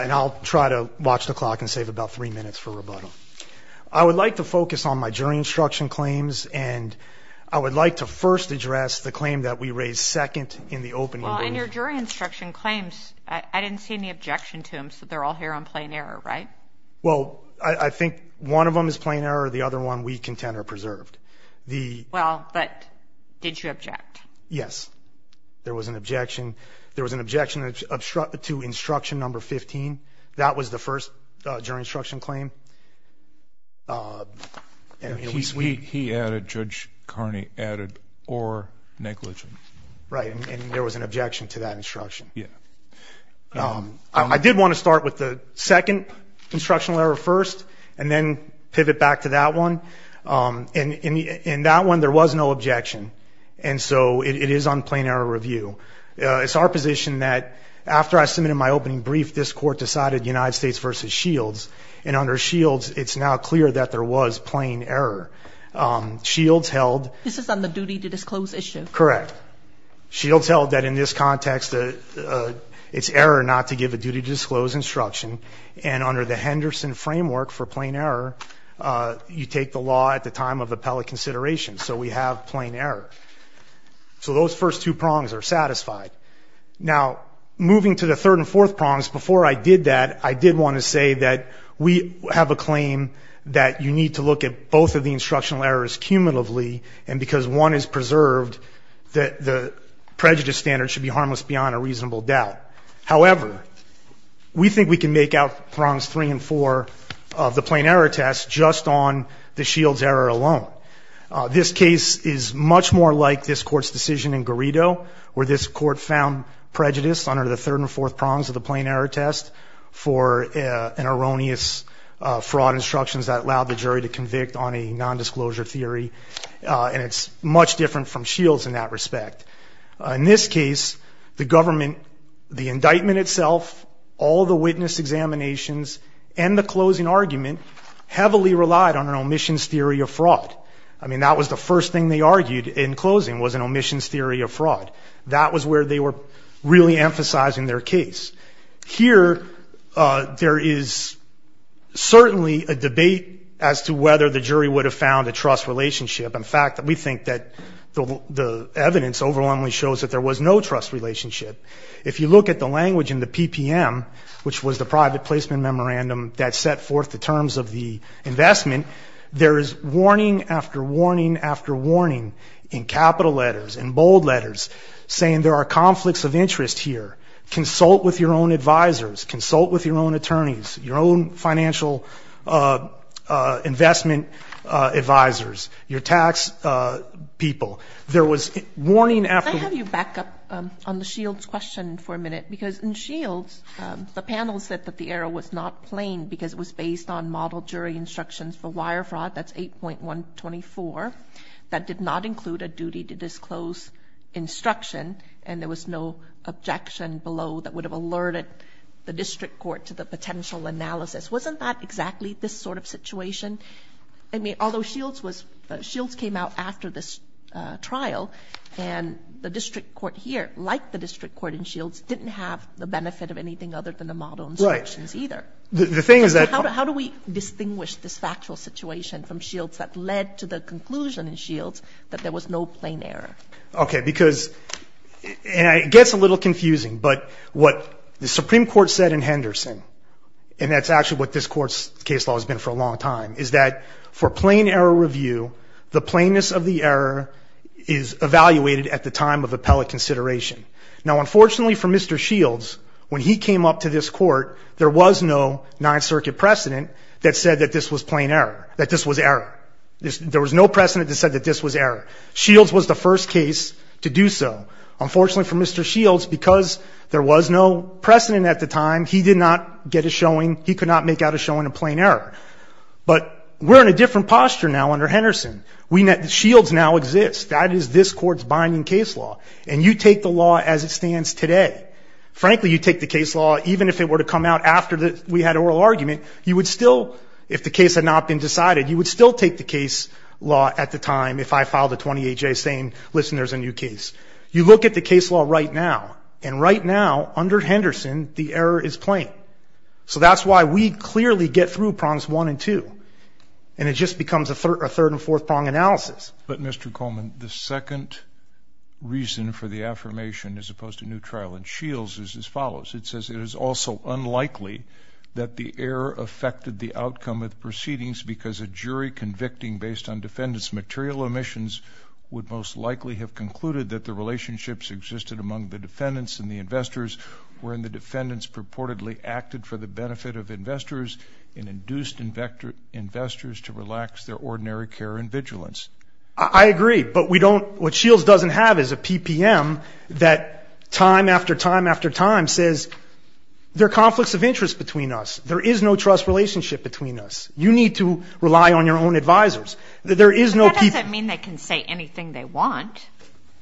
and I'll try to watch the clock and save about three minutes for rebuttal. I would like to focus on my jury instruction claims, and I would like to first address the claim that we raised second in the opening. Well, in your jury instruction claims, I didn't see any objection to them, so they're all here on plain error, right? Well, I think one of them is plain error, the other one we contend are preserved. Well, but did you object? Yes, there was an objection. There was an objection to instruction number 15. That was the first jury instruction claim. He added, Judge Carney added, or negligent. Right, and there was an objection to that instruction. Yeah. I did want to start with the second instructional error first and then pivot back to that one. In that one, there was no objection, and so it is on plain error review. It's our position that after I submitted my opening brief, this Court decided United States v. Shields, and under Shields, it's now clear that there was plain error. Shields held... This is on the duty to disclose issue. Correct. Shields held that in this context, it's error not to give a duty to disclose instruction, and under the Henderson framework for plain error, you take the law at the time of appellate consideration, so we have plain error. So those first two prongs are satisfied. Now, moving to the third and fourth prongs, before I did that, I did want to say that we have a claim that you need to look at both of the instructional errors cumulatively, and because one is preserved, that the prejudice standard should be harmless beyond a reasonable doubt. However, we think we can make out prongs three and four of the plain error test just on the Shields error alone. This case is much more like this Court's decision in Garrido, where this Court found prejudice under the third and fourth prongs of the plain error test for an erroneous fraud instruction that allowed the jury to convict on a nondisclosure theory, and it's much different from Shields in that respect. In this case, the government, the indictment itself, all the witness examinations, and the closing argument heavily relied on an omissions theory of fraud. I mean, that was the first thing they argued in closing was an omissions theory of fraud. That was where they were really emphasizing their case. Here, there is certainly a debate as to whether the jury would have found a trust relationship. In fact, we think that the evidence overwhelmingly shows that there was no trust relationship. If you look at the language in the PPM, which was the private placement memorandum that set forth the terms of the investment, there is warning after warning after warning in capital letters, in bold letters, saying there are conflicts of interest here. Consult with your own advisers. Consult with your own attorneys, your own financial investment advisers, your tax people. There was warning after warning. Can I have you back up on the Shields question for a minute? Because in Shields, the panel said that the error was not plain because it was based on model jury instructions for wire fraud. That's 8.124. That did not include a duty to disclose instruction, and there was no objection below that would have alerted the district court to the potential analysis. Wasn't that exactly this sort of situation? I mean, although Shields came out after this trial, and the district court here, like the district court in Shields, didn't have the benefit of anything other than the model instructions either. How do we distinguish this factual situation from Shields that led to the conclusion in Shields that there was no plain error? Okay, because it gets a little confusing, but what the Supreme Court said in Henderson, and that's actually what this Court's case law has been for a long time, is that for plain error review, the plainness of the error is evaluated at the time of appellate consideration. Now, unfortunately for Mr. Shields, when he came up to this Court, there was no Ninth Circuit precedent that said that this was plain error, that this was error. There was no precedent that said that this was error. Shields was the first case to do so. Unfortunately for Mr. Shields, because there was no precedent at the time, he did not get a showing. He could not make out a showing of plain error. But we're in a different posture now under Henderson. Shields now exists. That is this Court's binding case law. And you take the law as it stands today. Frankly, you take the case law, even if it were to come out after we had oral argument, you would still, if the case had not been decided, you would still take the case law at the time if I filed a 28-J saying, listen, there's a new case. You look at the case law right now, and right now, under Henderson, the error is plain. So that's why we clearly get through prongs one and two, and it just becomes a third and fourth prong analysis. But, Mr. Coleman, the second reason for the affirmation as opposed to new trial in Shields is as follows. It says it is also unlikely that the error affected the outcome of proceedings because a jury convicting based on defendant's material omissions would most likely have concluded that the relationships existed among the defendants and the investors, wherein the defendants purportedly acted for the benefit of investors and induced investors to relax their ordinary care and vigilance. I agree, but we don't, what Shields doesn't have is a PPM that time after time after time says, there are conflicts of interest between us. There is no trust relationship between us. You need to rely on your own advisors. That doesn't mean they can say anything they want.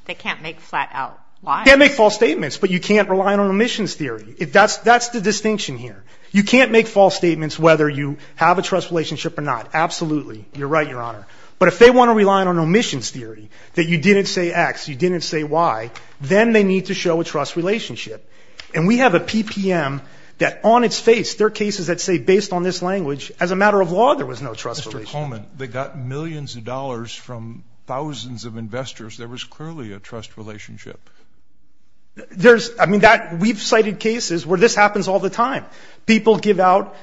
They can't make flat out lies. They can't make false statements, but you can't rely on omissions theory. That's the distinction here. You can't make false statements whether you have a trust relationship or not. Absolutely. You're right, Your Honor. But if they want to rely on omissions theory, that you didn't say X, you didn't say Y, then they need to show a trust relationship. And we have a PPM that on its face, there are cases that say based on this language, as a matter of law there was no trust relationship. Mr. Coleman, they got millions of dollars from thousands of investors. There was clearly a trust relationship. There's, I mean, we've cited cases where this happens all the time. People give out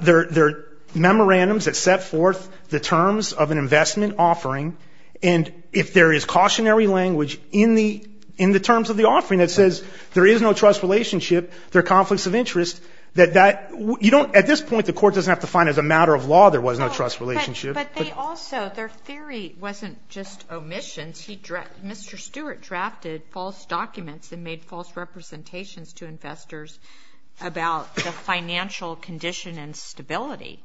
their memorandums that set forth the terms of an investment offering. And if there is cautionary language in the terms of the offering that says there is no trust relationship, there are conflicts of interest, that that you don't at this point, the court doesn't have to find as a matter of law there was no trust relationship. But they also, their theory wasn't just omissions. Mr. Stewart drafted false documents and made false representations to investors about the financial condition and stability.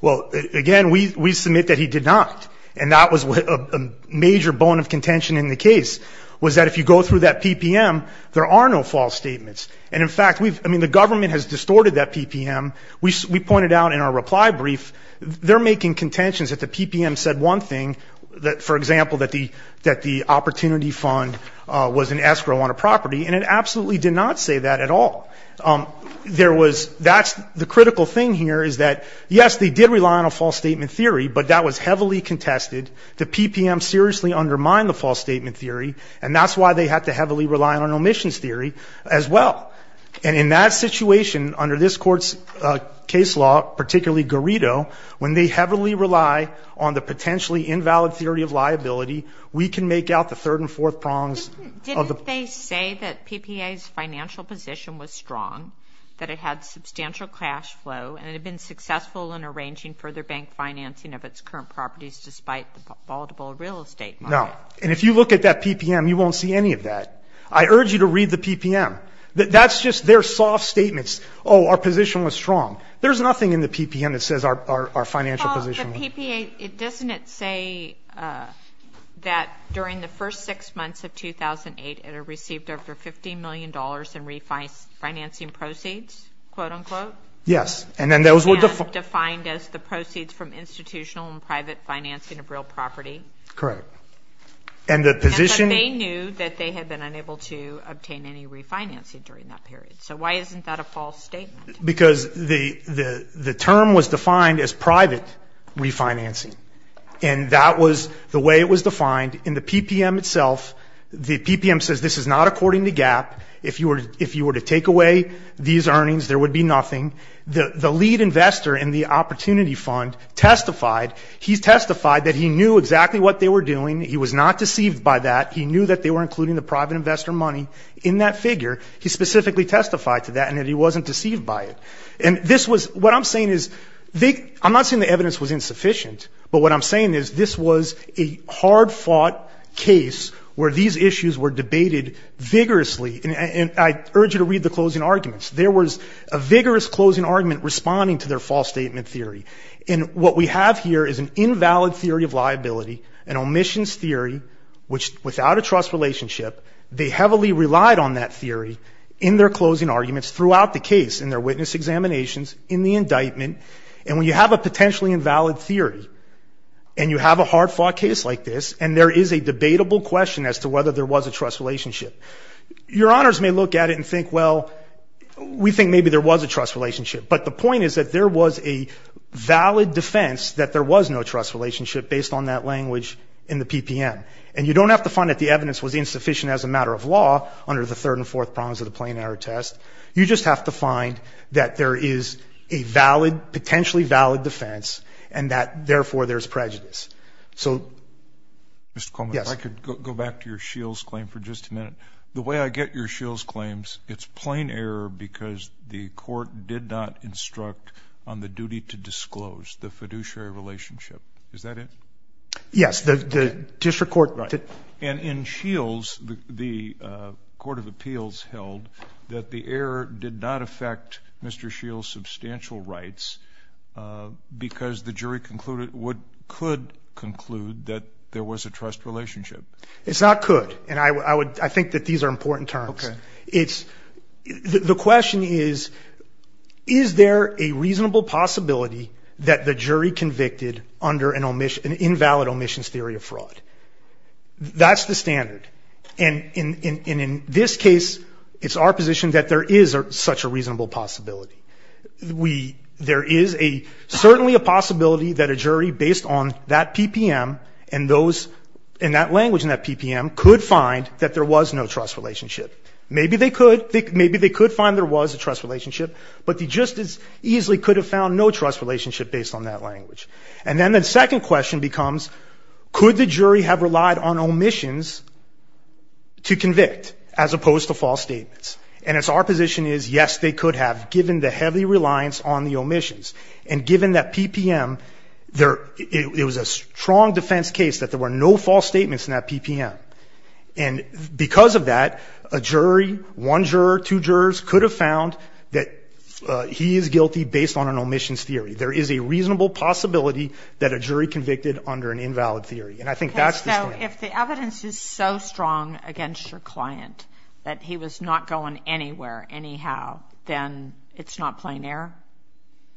Well, again, we submit that he did not. And that was a major bone of contention in the case was that if you go through that PPM, there are no false statements. And, in fact, we've, I mean, the government has distorted that PPM. We pointed out in our reply brief they're making contentions that the PPM said one thing, that, for example, that the opportunity fund was an escrow on a property. And it absolutely did not say that at all. There was, that's the critical thing here is that, yes, they did rely on a false statement theory, but that was heavily contested. The PPM seriously undermined the false statement theory, and that's why they had to heavily rely on omissions theory as well. And in that situation, under this court's case law, particularly Garrido, when they heavily rely on the potentially invalid theory of liability, we can make out the third and fourth prongs of the. Didn't they say that PPA's financial position was strong, that it had substantial cash flow, and it had been successful in arranging further bank financing of its current properties despite the palatable real estate market? No. And if you look at that PPM, you won't see any of that. I urge you to read the PPM. That's just their soft statements. Oh, our position was strong. There's nothing in the PPM that says our financial position was. Well, the PPA, doesn't it say that during the first six months of 2008, it had received over $50 million in refinancing proceeds, quote, unquote? Yes. And then those were defined as the proceeds from institutional and private financing of real property. Correct. And that they knew that they had been unable to obtain any refinancing during that period. So why isn't that a false statement? Because the term was defined as private refinancing, and that was the way it was defined in the PPM itself. The PPM says this is not according to GAAP. If you were to take away these earnings, there would be nothing. The lead investor in the Opportunity Fund testified. He testified that he knew exactly what they were doing. He was not deceived by that. He knew that they were including the private investor money in that figure. He specifically testified to that and that he wasn't deceived by it. And this was, what I'm saying is, I'm not saying the evidence was insufficient, but what I'm saying is this was a hard-fought case where these issues were debated vigorously. And I urge you to read the closing arguments. There was a vigorous closing argument responding to their false statement theory. And what we have here is an invalid theory of liability, an omissions theory, which without a trust relationship, they heavily relied on that theory in their closing arguments throughout the case, in their witness examinations, in the indictment. And when you have a potentially invalid theory and you have a hard-fought case like this and there is a debatable question as to whether there was a trust relationship, your honors may look at it and think, well, we think maybe there was a trust relationship. But the point is that there was a valid defense that there was no trust relationship based on that language in the PPM. And you don't have to find that the evidence was insufficient as a matter of law under the third and fourth prongs of the plain error test. You just have to find that there is a valid, potentially valid defense and that, therefore, there's prejudice. So, yes. Mr. Coleman, if I could go back to your Shields claim for just a minute. The way I get your Shields claims, it's plain error because the court did not instruct on the duty to disclose the fiduciary relationship. Is that it? Yes. The district court did. And in Shields, the Court of Appeals held that the error did not affect Mr. Shields' substantial rights because the jury could conclude that there was a trust relationship. It's not could. And I think that these are important terms. Okay. The question is, is there a reasonable possibility that the jury convicted under an invalid omissions theory of fraud? That's the standard. And in this case, it's our position that there is such a reasonable possibility. There is certainly a possibility that a jury based on that PPM and that language in that PPM could find that there was no trust relationship. Maybe they could. Maybe they could find there was a trust relationship, but they just as easily could have found no trust relationship based on that language. And then the second question becomes, could the jury have relied on omissions to convict as opposed to false statements? And it's our position is, yes, they could have, given the heavy reliance on the omissions. And given that PPM, it was a strong defense case that there were no false statements in that PPM. And because of that, a jury, one juror, two jurors could have found that he is guilty based on an omissions theory. There is a reasonable possibility that a jury convicted under an invalid theory. And I think that's the standard. Okay. So if the evidence is so strong against your client that he was not going anywhere anyhow, then it's not plain error?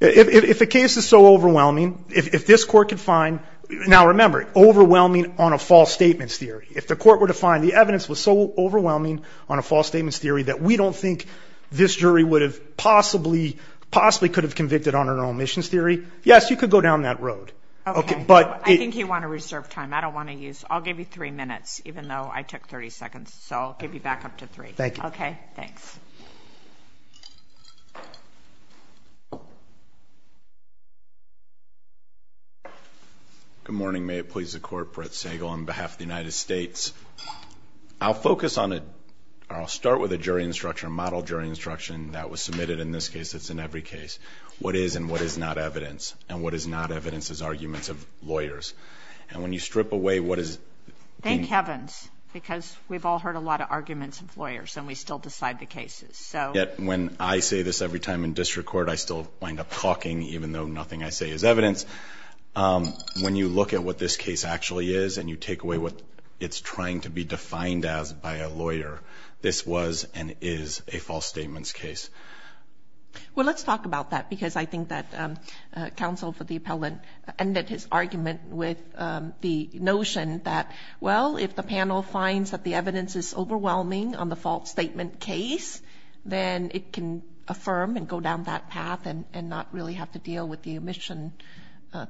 If the case is so overwhelming, if this court could find – now, remember, overwhelming on a false statements theory. If the court were to find the evidence was so overwhelming on a false statements theory that we don't think this jury would have possibly could have convicted on an omissions theory, yes, you could go down that road. Okay. I think you want to reserve time. I don't want to use – I'll give you three minutes, even though I took 30 seconds. So I'll give you back up to three. Thank you. Okay. Thanks. Good morning. Good morning. May it please the Court. Brett Sagel on behalf of the United States. I'll focus on a – I'll start with a jury instruction, a model jury instruction that was submitted in this case. It's in every case. What is and what is not evidence. And what is not evidence is arguments of lawyers. And when you strip away what is – Thank heavens, because we've all heard a lot of arguments of lawyers, and we still decide the cases. Yet when I say this every time in district court, I still wind up talking, even though nothing I say is evidence. When you look at what this case actually is and you take away what it's trying to be defined as by a lawyer, this was and is a false statements case. Well, let's talk about that because I think that counsel for the appellant ended his argument with the notion that, well, if the panel finds that the evidence is overwhelming on the false statement case, then it can affirm and go down that path and not really have to deal with the omission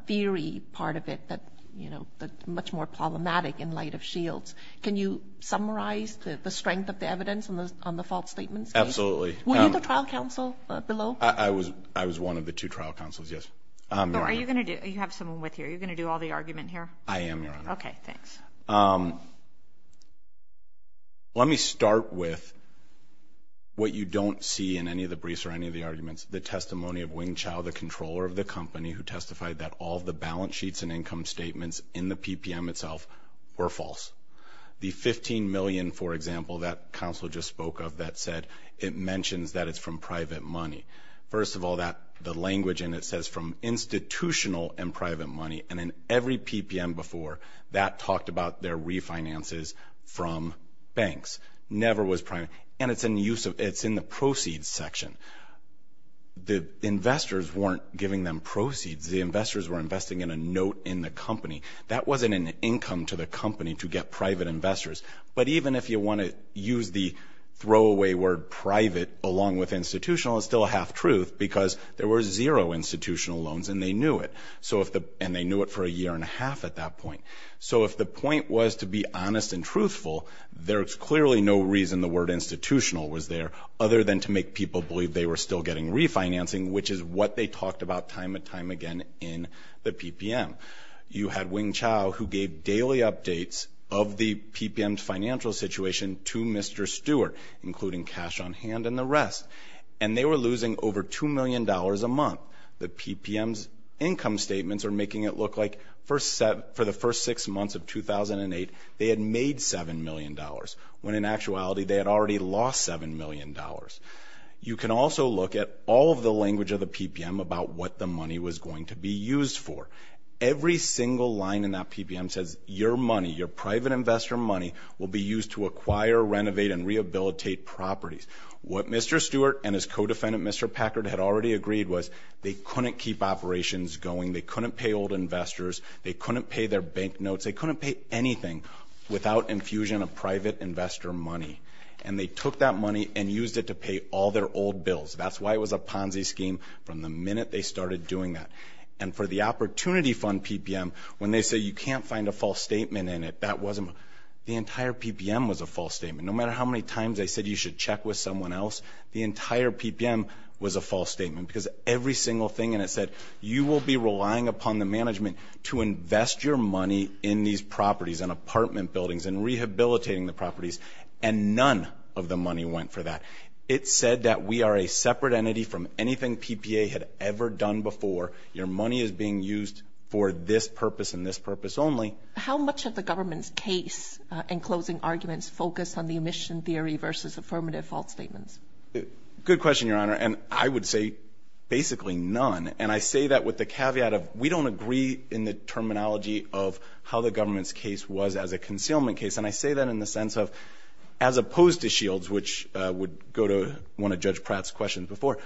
theory part of it that's much more problematic in light of Shields. Can you summarize the strength of the evidence on the false statement case? Absolutely. Were you the trial counsel below? I was one of the two trial counsels, yes. Are you going to do – you have someone with you. Are you going to do all the argument here? I am, Your Honor. Okay, thanks. Let me start with what you don't see in any of the briefs or any of the arguments, the testimony of Wing Chau, the controller of the company, who testified that all of the balance sheets and income statements in the PPM itself were false. The $15 million, for example, that counsel just spoke of that said it mentions that it's from private money. First of all, the language in it says from institutional and private money, and in every PPM before that talked about their refinances from banks. And it's in the proceeds section. The investors weren't giving them proceeds. The investors were investing in a note in the company. That wasn't an income to the company to get private investors. But even if you want to use the throwaway word private along with institutional, it's still a half truth because there were zero institutional loans, and they knew it, and they knew it for a year and a half at that point. So if the point was to be honest and truthful, there's clearly no reason the word institutional was there other than to make people believe they were still getting refinancing, which is what they talked about time and time again in the PPM. You had Wing Chau, who gave daily updates of the PPM's financial situation to Mr. Stewart, including cash on hand and the rest, and they were losing over $2 million a month. The PPM's income statements are making it look like for the first six months of 2008, they had made $7 million, when in actuality they had already lost $7 million. You can also look at all of the language of the PPM about what the money was going to be used for. Every single line in that PPM says your money, your private investor money, will be used to acquire, renovate, and rehabilitate properties. What Mr. Stewart and his co-defendant, Mr. Packard, had already agreed was they couldn't keep operations going, they couldn't pay old investors, they couldn't pay their bank notes, they couldn't pay anything without infusion of private investor money. And they took that money and used it to pay all their old bills. That's why it was a Ponzi scheme from the minute they started doing that. And for the Opportunity Fund PPM, when they say you can't find a false statement in it, the entire PPM was a false statement. No matter how many times they said you should check with someone else, the entire PPM was a false statement because every single thing in it said you will be relying upon the management to invest your money in these properties and apartment buildings and rehabilitating the properties, and none of the money went for that. It said that we are a separate entity from anything PPA had ever done before. Your money is being used for this purpose and this purpose only. How much of the government's case and closing arguments focus on the omission theory versus affirmative false statements? Good question, Your Honor, and I would say basically none. And I say that with the caveat of we don't agree in the terminology of how the government's case was as a concealment case. And I say that in the sense of as opposed to Shields, which would go to one of Judge Pratt's questions before,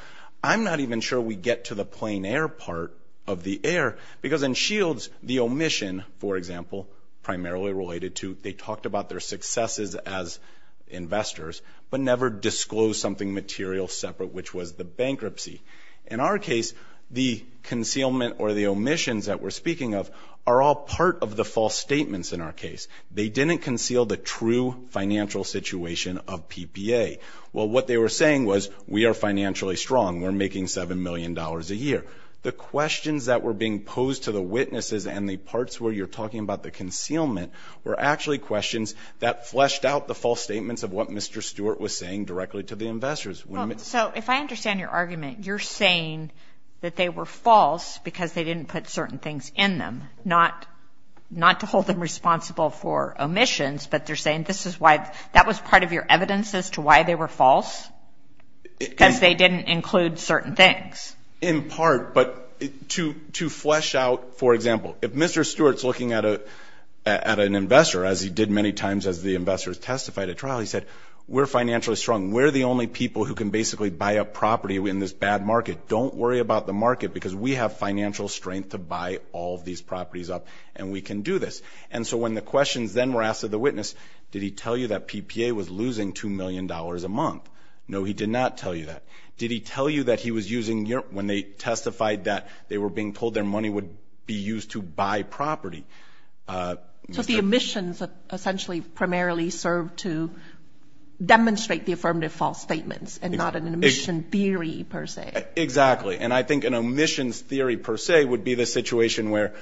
I'm not even sure we get to the plain air part of the air because in Shields the omission, for example, primarily related to they talked about their successes as investors but never disclosed something material separate, which was the bankruptcy. In our case, the concealment or the omissions that we're speaking of are all part of the false statements in our case. They didn't conceal the true financial situation of PPA. Well, what they were saying was we are financially strong, we're making $7 million a year. The questions that were being posed to the witnesses and the parts where you're talking about the concealment were actually questions that fleshed out the false statements of what Mr. Stewart was saying directly to the investors. So if I understand your argument, you're saying that they were false because they didn't put certain things in them, not to hold them responsible for omissions, but they're saying that was part of your evidence as to why they were false because they didn't include certain things. In part, but to flesh out, for example, if Mr. Stewart's looking at an investor, as he did many times as the investors testified at trial, he said, we're financially strong. We're the only people who can basically buy up property in this bad market. Don't worry about the market because we have financial strength to buy all of these properties up and we can do this. And so when the questions then were asked to the witness, did he tell you that PPA was losing $2 million a month? No, he did not tell you that. Did he tell you that he was using your, when they testified that they were being told their money would be used to buy property? So the omissions essentially primarily served to demonstrate the affirmative false statements and not an omission theory per se. Exactly, and I think an omissions theory per se would be the situation where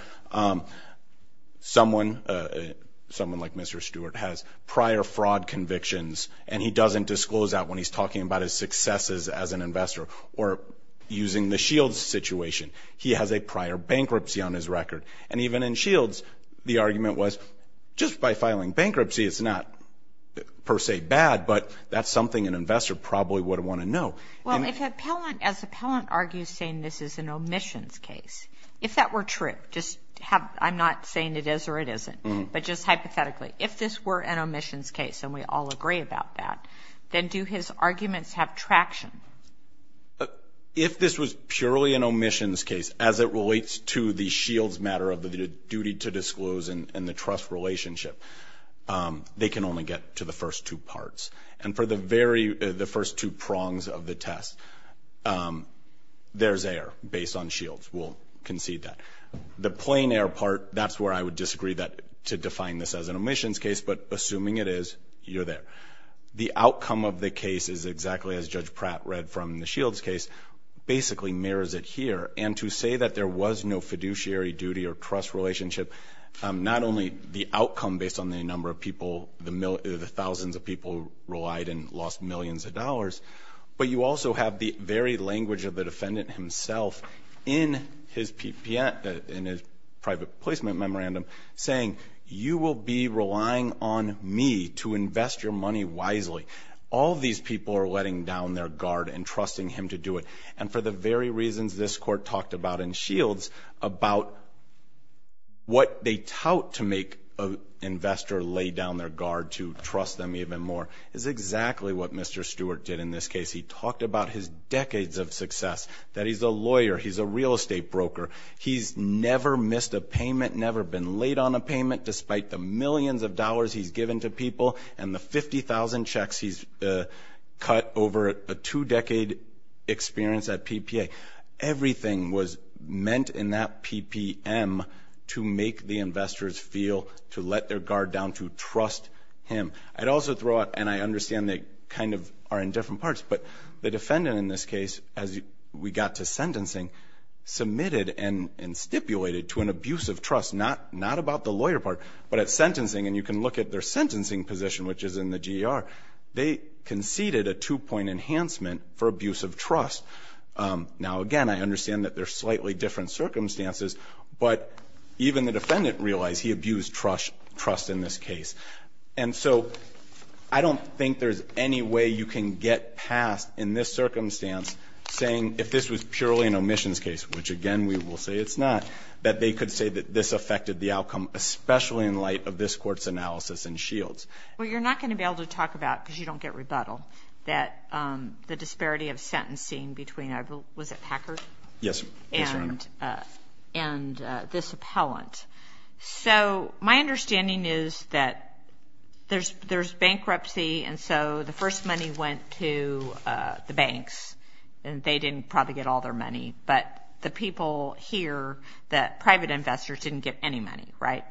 someone like Mr. Stewart has prior fraud convictions and he doesn't disclose that when he's talking about his successes as an investor or using the Shields situation. He has a prior bankruptcy on his record. And even in Shields, the argument was just by filing bankruptcy, it's not per se bad, but that's something an investor probably would want to know. Well, if an appellant, as an appellant argues saying this is an omissions case, if that were true, just have, I'm not saying it is or it isn't, but just hypothetically, if this were an omissions case, and we all agree about that, then do his arguments have traction? If this was purely an omissions case as it relates to the Shields matter of the duty to disclose and the trust relationship, they can only get to the first two parts. And for the first two prongs of the test, there's air based on Shields. We'll concede that. The plain air part, that's where I would disagree to define this as an omissions case, but assuming it is, you're there. The outcome of the case is exactly as Judge Pratt read from the Shields case, basically mirrors it here. And to say that there was no fiduciary duty or trust relationship, not only the outcome based on the number of people, the thousands of people who relied and lost millions of dollars, but you also have the very language of the defendant himself in his private placement memorandum saying, you will be relying on me to invest your money wisely. All these people are letting down their guard and trusting him to do it. And for the very reasons this Court talked about in Shields, about what they tout to make an investor lay down their guard to trust them even more, is exactly what Mr. Stewart did in this case. He talked about his decades of success, that he's a lawyer, he's a real estate broker, he's never missed a payment, never been late on a payment, despite the millions of dollars he's given to people and the 50,000 checks he's cut over a two-decade experience at PPA. Everything was meant in that PPM to make the investors feel to let their guard down, to trust him. I'd also throw out, and I understand they kind of are in different parts, but the defendant in this case, as we got to sentencing, submitted and stipulated to an abuse of trust, not about the lawyer part, but at sentencing, and you can look at their sentencing position, which is in the GER, they conceded a two-point enhancement for abuse of trust. Now, again, I understand that they're slightly different circumstances, but even the defendant realized he abused trust in this case. And so I don't think there's any way you can get past, in this circumstance, saying if this was purely an omissions case, which, again, we will say it's not, that they could say that this affected the outcome, especially in light of this Court's analysis in Shields. Well, you're not going to be able to talk about, because you don't get rebuttal, that the disparity of sentencing between, was it Packard? Yes, Your Honor. And this appellant. So my understanding is that there's bankruptcy, and so the first money went to the banks, and they didn't probably get all their money. But the people here, the private investors didn't get any money, right?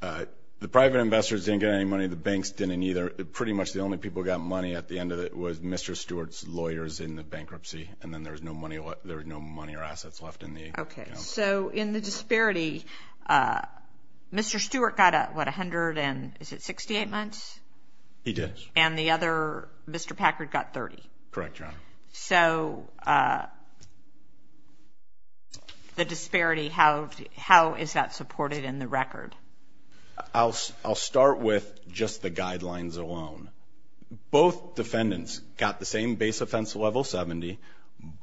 The private investors didn't get any money. The banks didn't either. Pretty much the only people who got money at the end of it was Mr. Stewart's lawyers in the bankruptcy, and then there was no money or assets left in the, you know. So in the disparity, Mr. Stewart got, what, 168 months? He did. And the other, Mr. Packard, got 30. Correct, Your Honor. So the disparity, how is that supported in the record? I'll start with just the guidelines alone. Both defendants got the same base offense level, 70.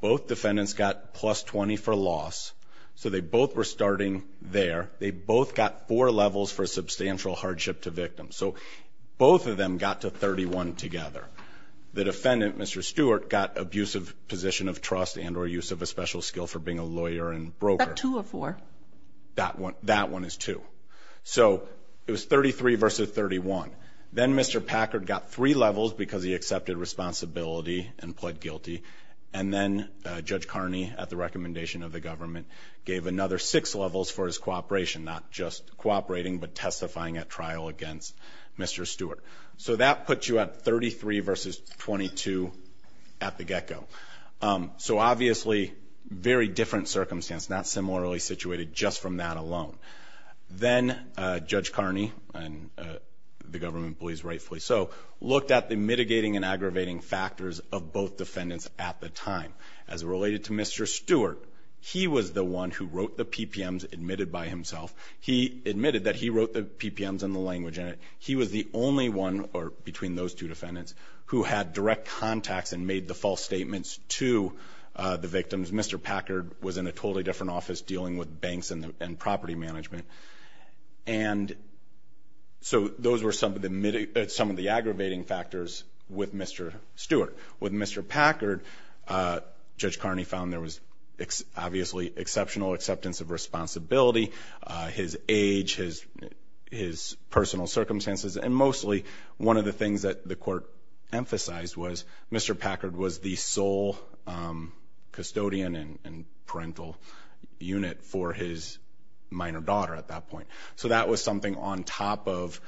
Both defendants got plus 20 for loss. So they both were starting there. They both got four levels for substantial hardship to victims. So both of them got to 31 together. The defendant, Mr. Stewart, got abusive position of trust and or use of a special skill for being a lawyer and broker. Is that two or four? That one is two. So it was 33 versus 31. Then Mr. Packard got three levels because he accepted responsibility and pled guilty. And then Judge Carney, at the recommendation of the government, gave another six levels for his cooperation, not just cooperating but testifying at trial against Mr. Stewart. So that puts you at 33 versus 22 at the get-go. So obviously very different circumstance, not similarly situated, just from that alone. Then Judge Carney, and the government believes rightfully so, looked at the mitigating and aggravating factors of both defendants at the time. As related to Mr. Stewart, he was the one who wrote the PPMs, admitted by himself. He admitted that he wrote the PPMs and the language in it. He was the only one between those two defendants who had direct contacts and made the false statements to the victims. Mr. Packard was in a totally different office, dealing with banks and property management. And so those were some of the aggravating factors with Mr. Stewart. With Mr. Packard, Judge Carney found there was obviously exceptional acceptance of responsibility, his age, his personal circumstances, and mostly one of the things that the court emphasized was Mr. Packard was the sole custodian and parental unit for his minor daughter at that point. So that was something on top of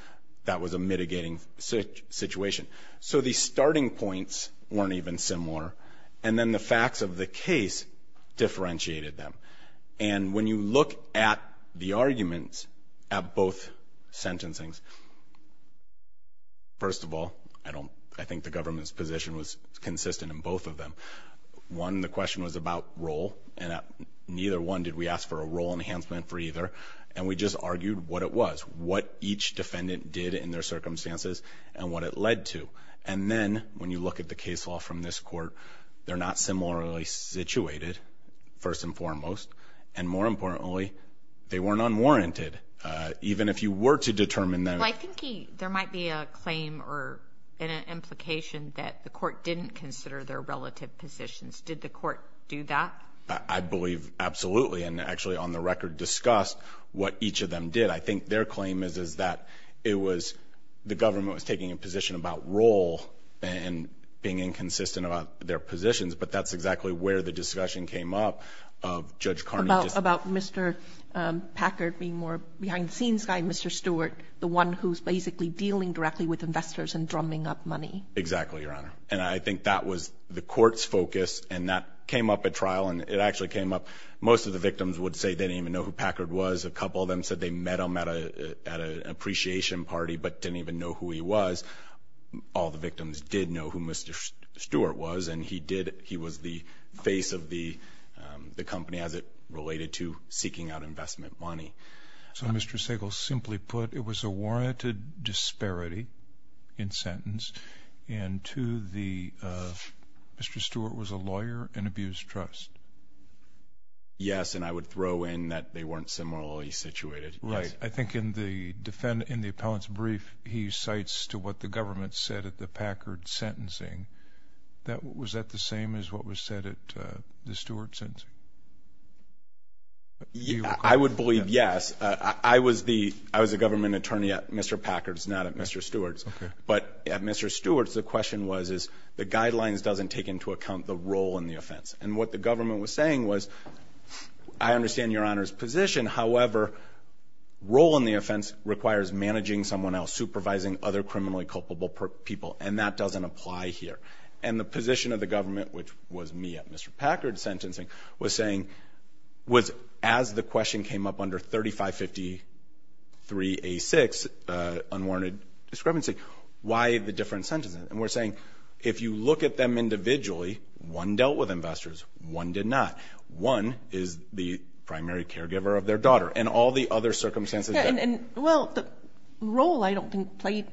that was a mitigating situation. So the starting points weren't even similar. And then the facts of the case differentiated them. And when you look at the arguments at both sentencings, first of all, I think the government's position was consistent in both of them. One, the question was about role, and neither one did we ask for a role enhancement for either. And we just argued what it was, what each defendant did in their circumstances and what it led to. And then when you look at the case law from this court, they're not similarly situated, first and foremost. And more importantly, they weren't unwarranted, even if you were to determine them. Well, I think there might be a claim or an implication that the court didn't consider their relative positions. Did the court do that? I believe absolutely, and actually on the record discussed what each of them did. I think their claim is that the government was taking a position about role and being inconsistent about their positions, but that's exactly where the discussion came up of Judge Carney. About Mr. Packard being more of a behind-the-scenes guy, Mr. Stewart, the one who's basically dealing directly with investors and drumming up money. Exactly, Your Honor. And I think that was the court's focus, and that came up at trial, and it actually came up. Most of the victims would say they didn't even know who Packard was. A couple of them said they met him at an appreciation party but didn't even know who he was. All the victims did know who Mr. Stewart was, and he was the face of the company as it related to seeking out investment money. So Mr. Sagel, simply put, it was a warranted disparity in sentence, and Mr. Stewart was a lawyer in abuse trust. Yes, and I would throw in that they weren't similarly situated. Right. I think in the appellant's brief he cites to what the government said at the Packard sentencing. Was that the same as what was said at the Stewart sentencing? I would believe yes. I was the government attorney at Mr. Packard's, not at Mr. Stewart's. Okay. But at Mr. Stewart's the question was, the guidelines doesn't take into account the role in the offense. And what the government was saying was, I understand Your Honor's position, however, role in the offense requires managing someone else, supervising other criminally culpable people, and that doesn't apply here. And the position of the government, which was me at Mr. Packard's sentencing, was saying, was as the question came up under 3553A6, unwarranted discrepancy, why the different sentences? And we're saying if you look at them individually, one dealt with investors, one did not, one is the primary caregiver of their daughter, and all the other circumstances. Well, the role I don't think played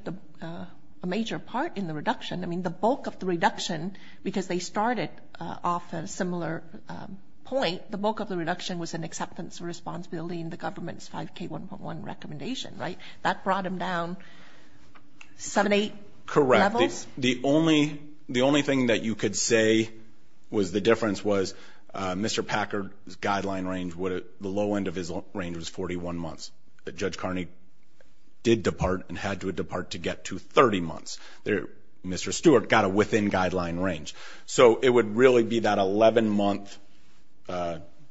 a major part in the reduction. I mean, the bulk of the reduction, because they started off a similar point, the bulk of the reduction was an acceptance of responsibility in the government's 5K1.1 recommendation, right? That brought them down seven, eight levels? Correct. The only thing that you could say was the difference was Mr. Packard's guideline range, the low end of his range was 41 months. Judge Carney did depart and had to depart to get to 30 months. Mr. Stewart got it within guideline range. So it would really be that 11-month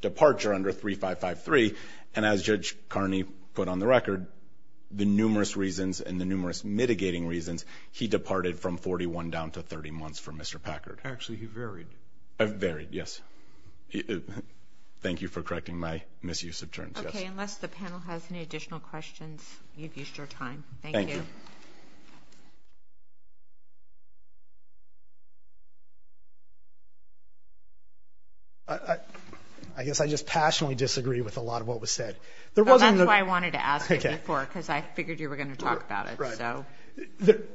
departure under 3553, and as Judge Carney put on the record, the numerous reasons and the numerous mitigating reasons, he departed from 41 down to 30 months for Mr. Packard. Actually, he varied. Varied, yes. Thank you for correcting my misuse of terms. Okay, unless the panel has any additional questions, you've used your time. Thank you. I guess I just passionately disagree with a lot of what was said. That's why I wanted to ask it before, because I figured you were going to talk about it.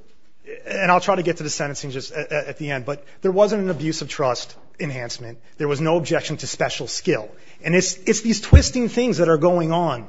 And I'll try to get to the sentencing just at the end, but there wasn't an abuse of trust enhancement. There was no objection to special skill. And it's these twisting things that are going on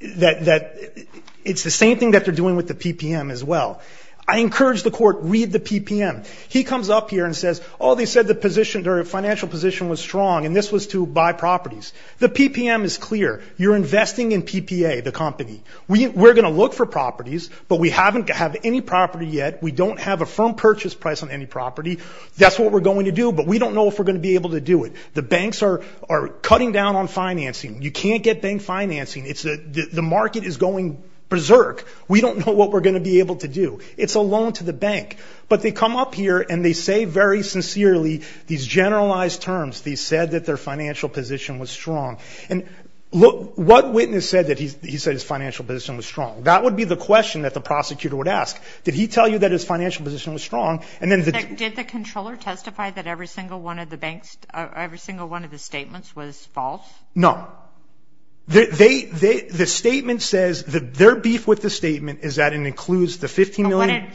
that it's the same thing that they're doing with the PPM as well. I encourage the court, read the PPM. He comes up here and says, oh, they said the financial position was strong, and this was to buy properties. The PPM is clear. You're investing in PPA, the company. We're going to look for properties, but we haven't had any property yet. We don't have a firm purchase price on any property. That's what we're going to do, but we don't know if we're going to be able to do it. The banks are cutting down on financing. You can't get bank financing. The market is going berserk. We don't know what we're going to be able to do. It's a loan to the bank. But they come up here and they say very sincerely these generalized terms, they said that their financial position was strong. And what witness said that he said his financial position was strong? That would be the question that the prosecutor would ask. Did he tell you that his financial position was strong? Did the controller testify that every single one of the statements was false? No. The statement says, their beef with the statement is that it includes the $15 million.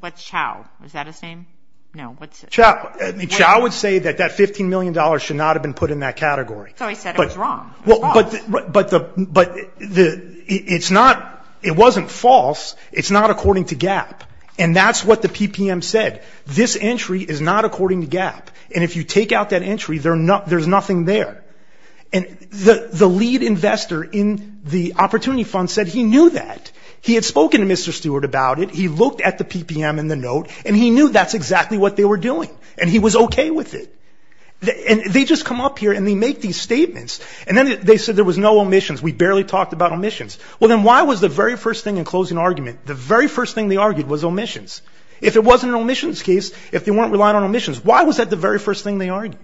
What's Chao? Is that his name? No. Chao would say that that $15 million should not have been put in that category. So he said it was wrong. But it wasn't false. It's not according to GAAP. And that's what the PPM said. This entry is not according to GAAP. And if you take out that entry, there's nothing there. And the lead investor in the opportunity fund said he knew that. He had spoken to Mr. Stewart about it. He looked at the PPM and the note. And he knew that's exactly what they were doing. And he was okay with it. And they just come up here and they make these statements. And then they said there was no omissions. We barely talked about omissions. Well, then why was the very first thing in closing argument, the very first thing they argued was omissions? If it wasn't an omissions case, if they weren't relying on omissions, why was that the very first thing they argued?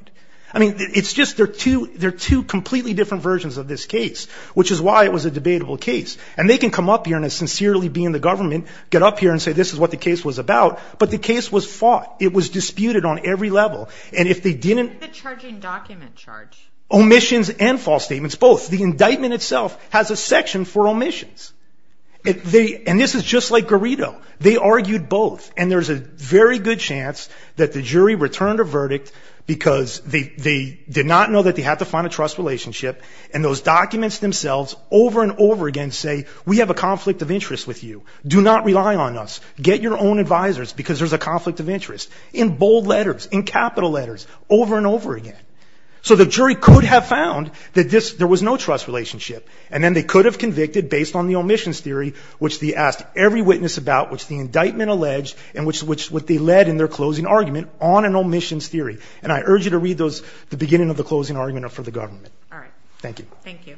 I mean, it's just they're two completely different versions of this case, which is why it was a debatable case. And they can come up here and as sincerely being the government, get up here and say this is what the case was about. But the case was fought. It was disputed on every level. And if they didn't ---- The charging document charge. Omissions and false statements, both. The indictment itself has a section for omissions. And this is just like Garrido. They argued both. And there's a very good chance that the jury returned a verdict because they did not know that they had to find a trust relationship. And those documents themselves over and over again say, we have a conflict of interest with you. Do not rely on us. Get your own advisors because there's a conflict of interest. In bold letters, in capital letters, over and over again. So the jury could have found that there was no trust relationship. And then they could have convicted based on the omissions theory, which they asked every witness about, which the indictment alleged, and which they led in their closing argument on an omissions theory. And I urge you to read the beginning of the closing argument for the government. Thank you. Thank you.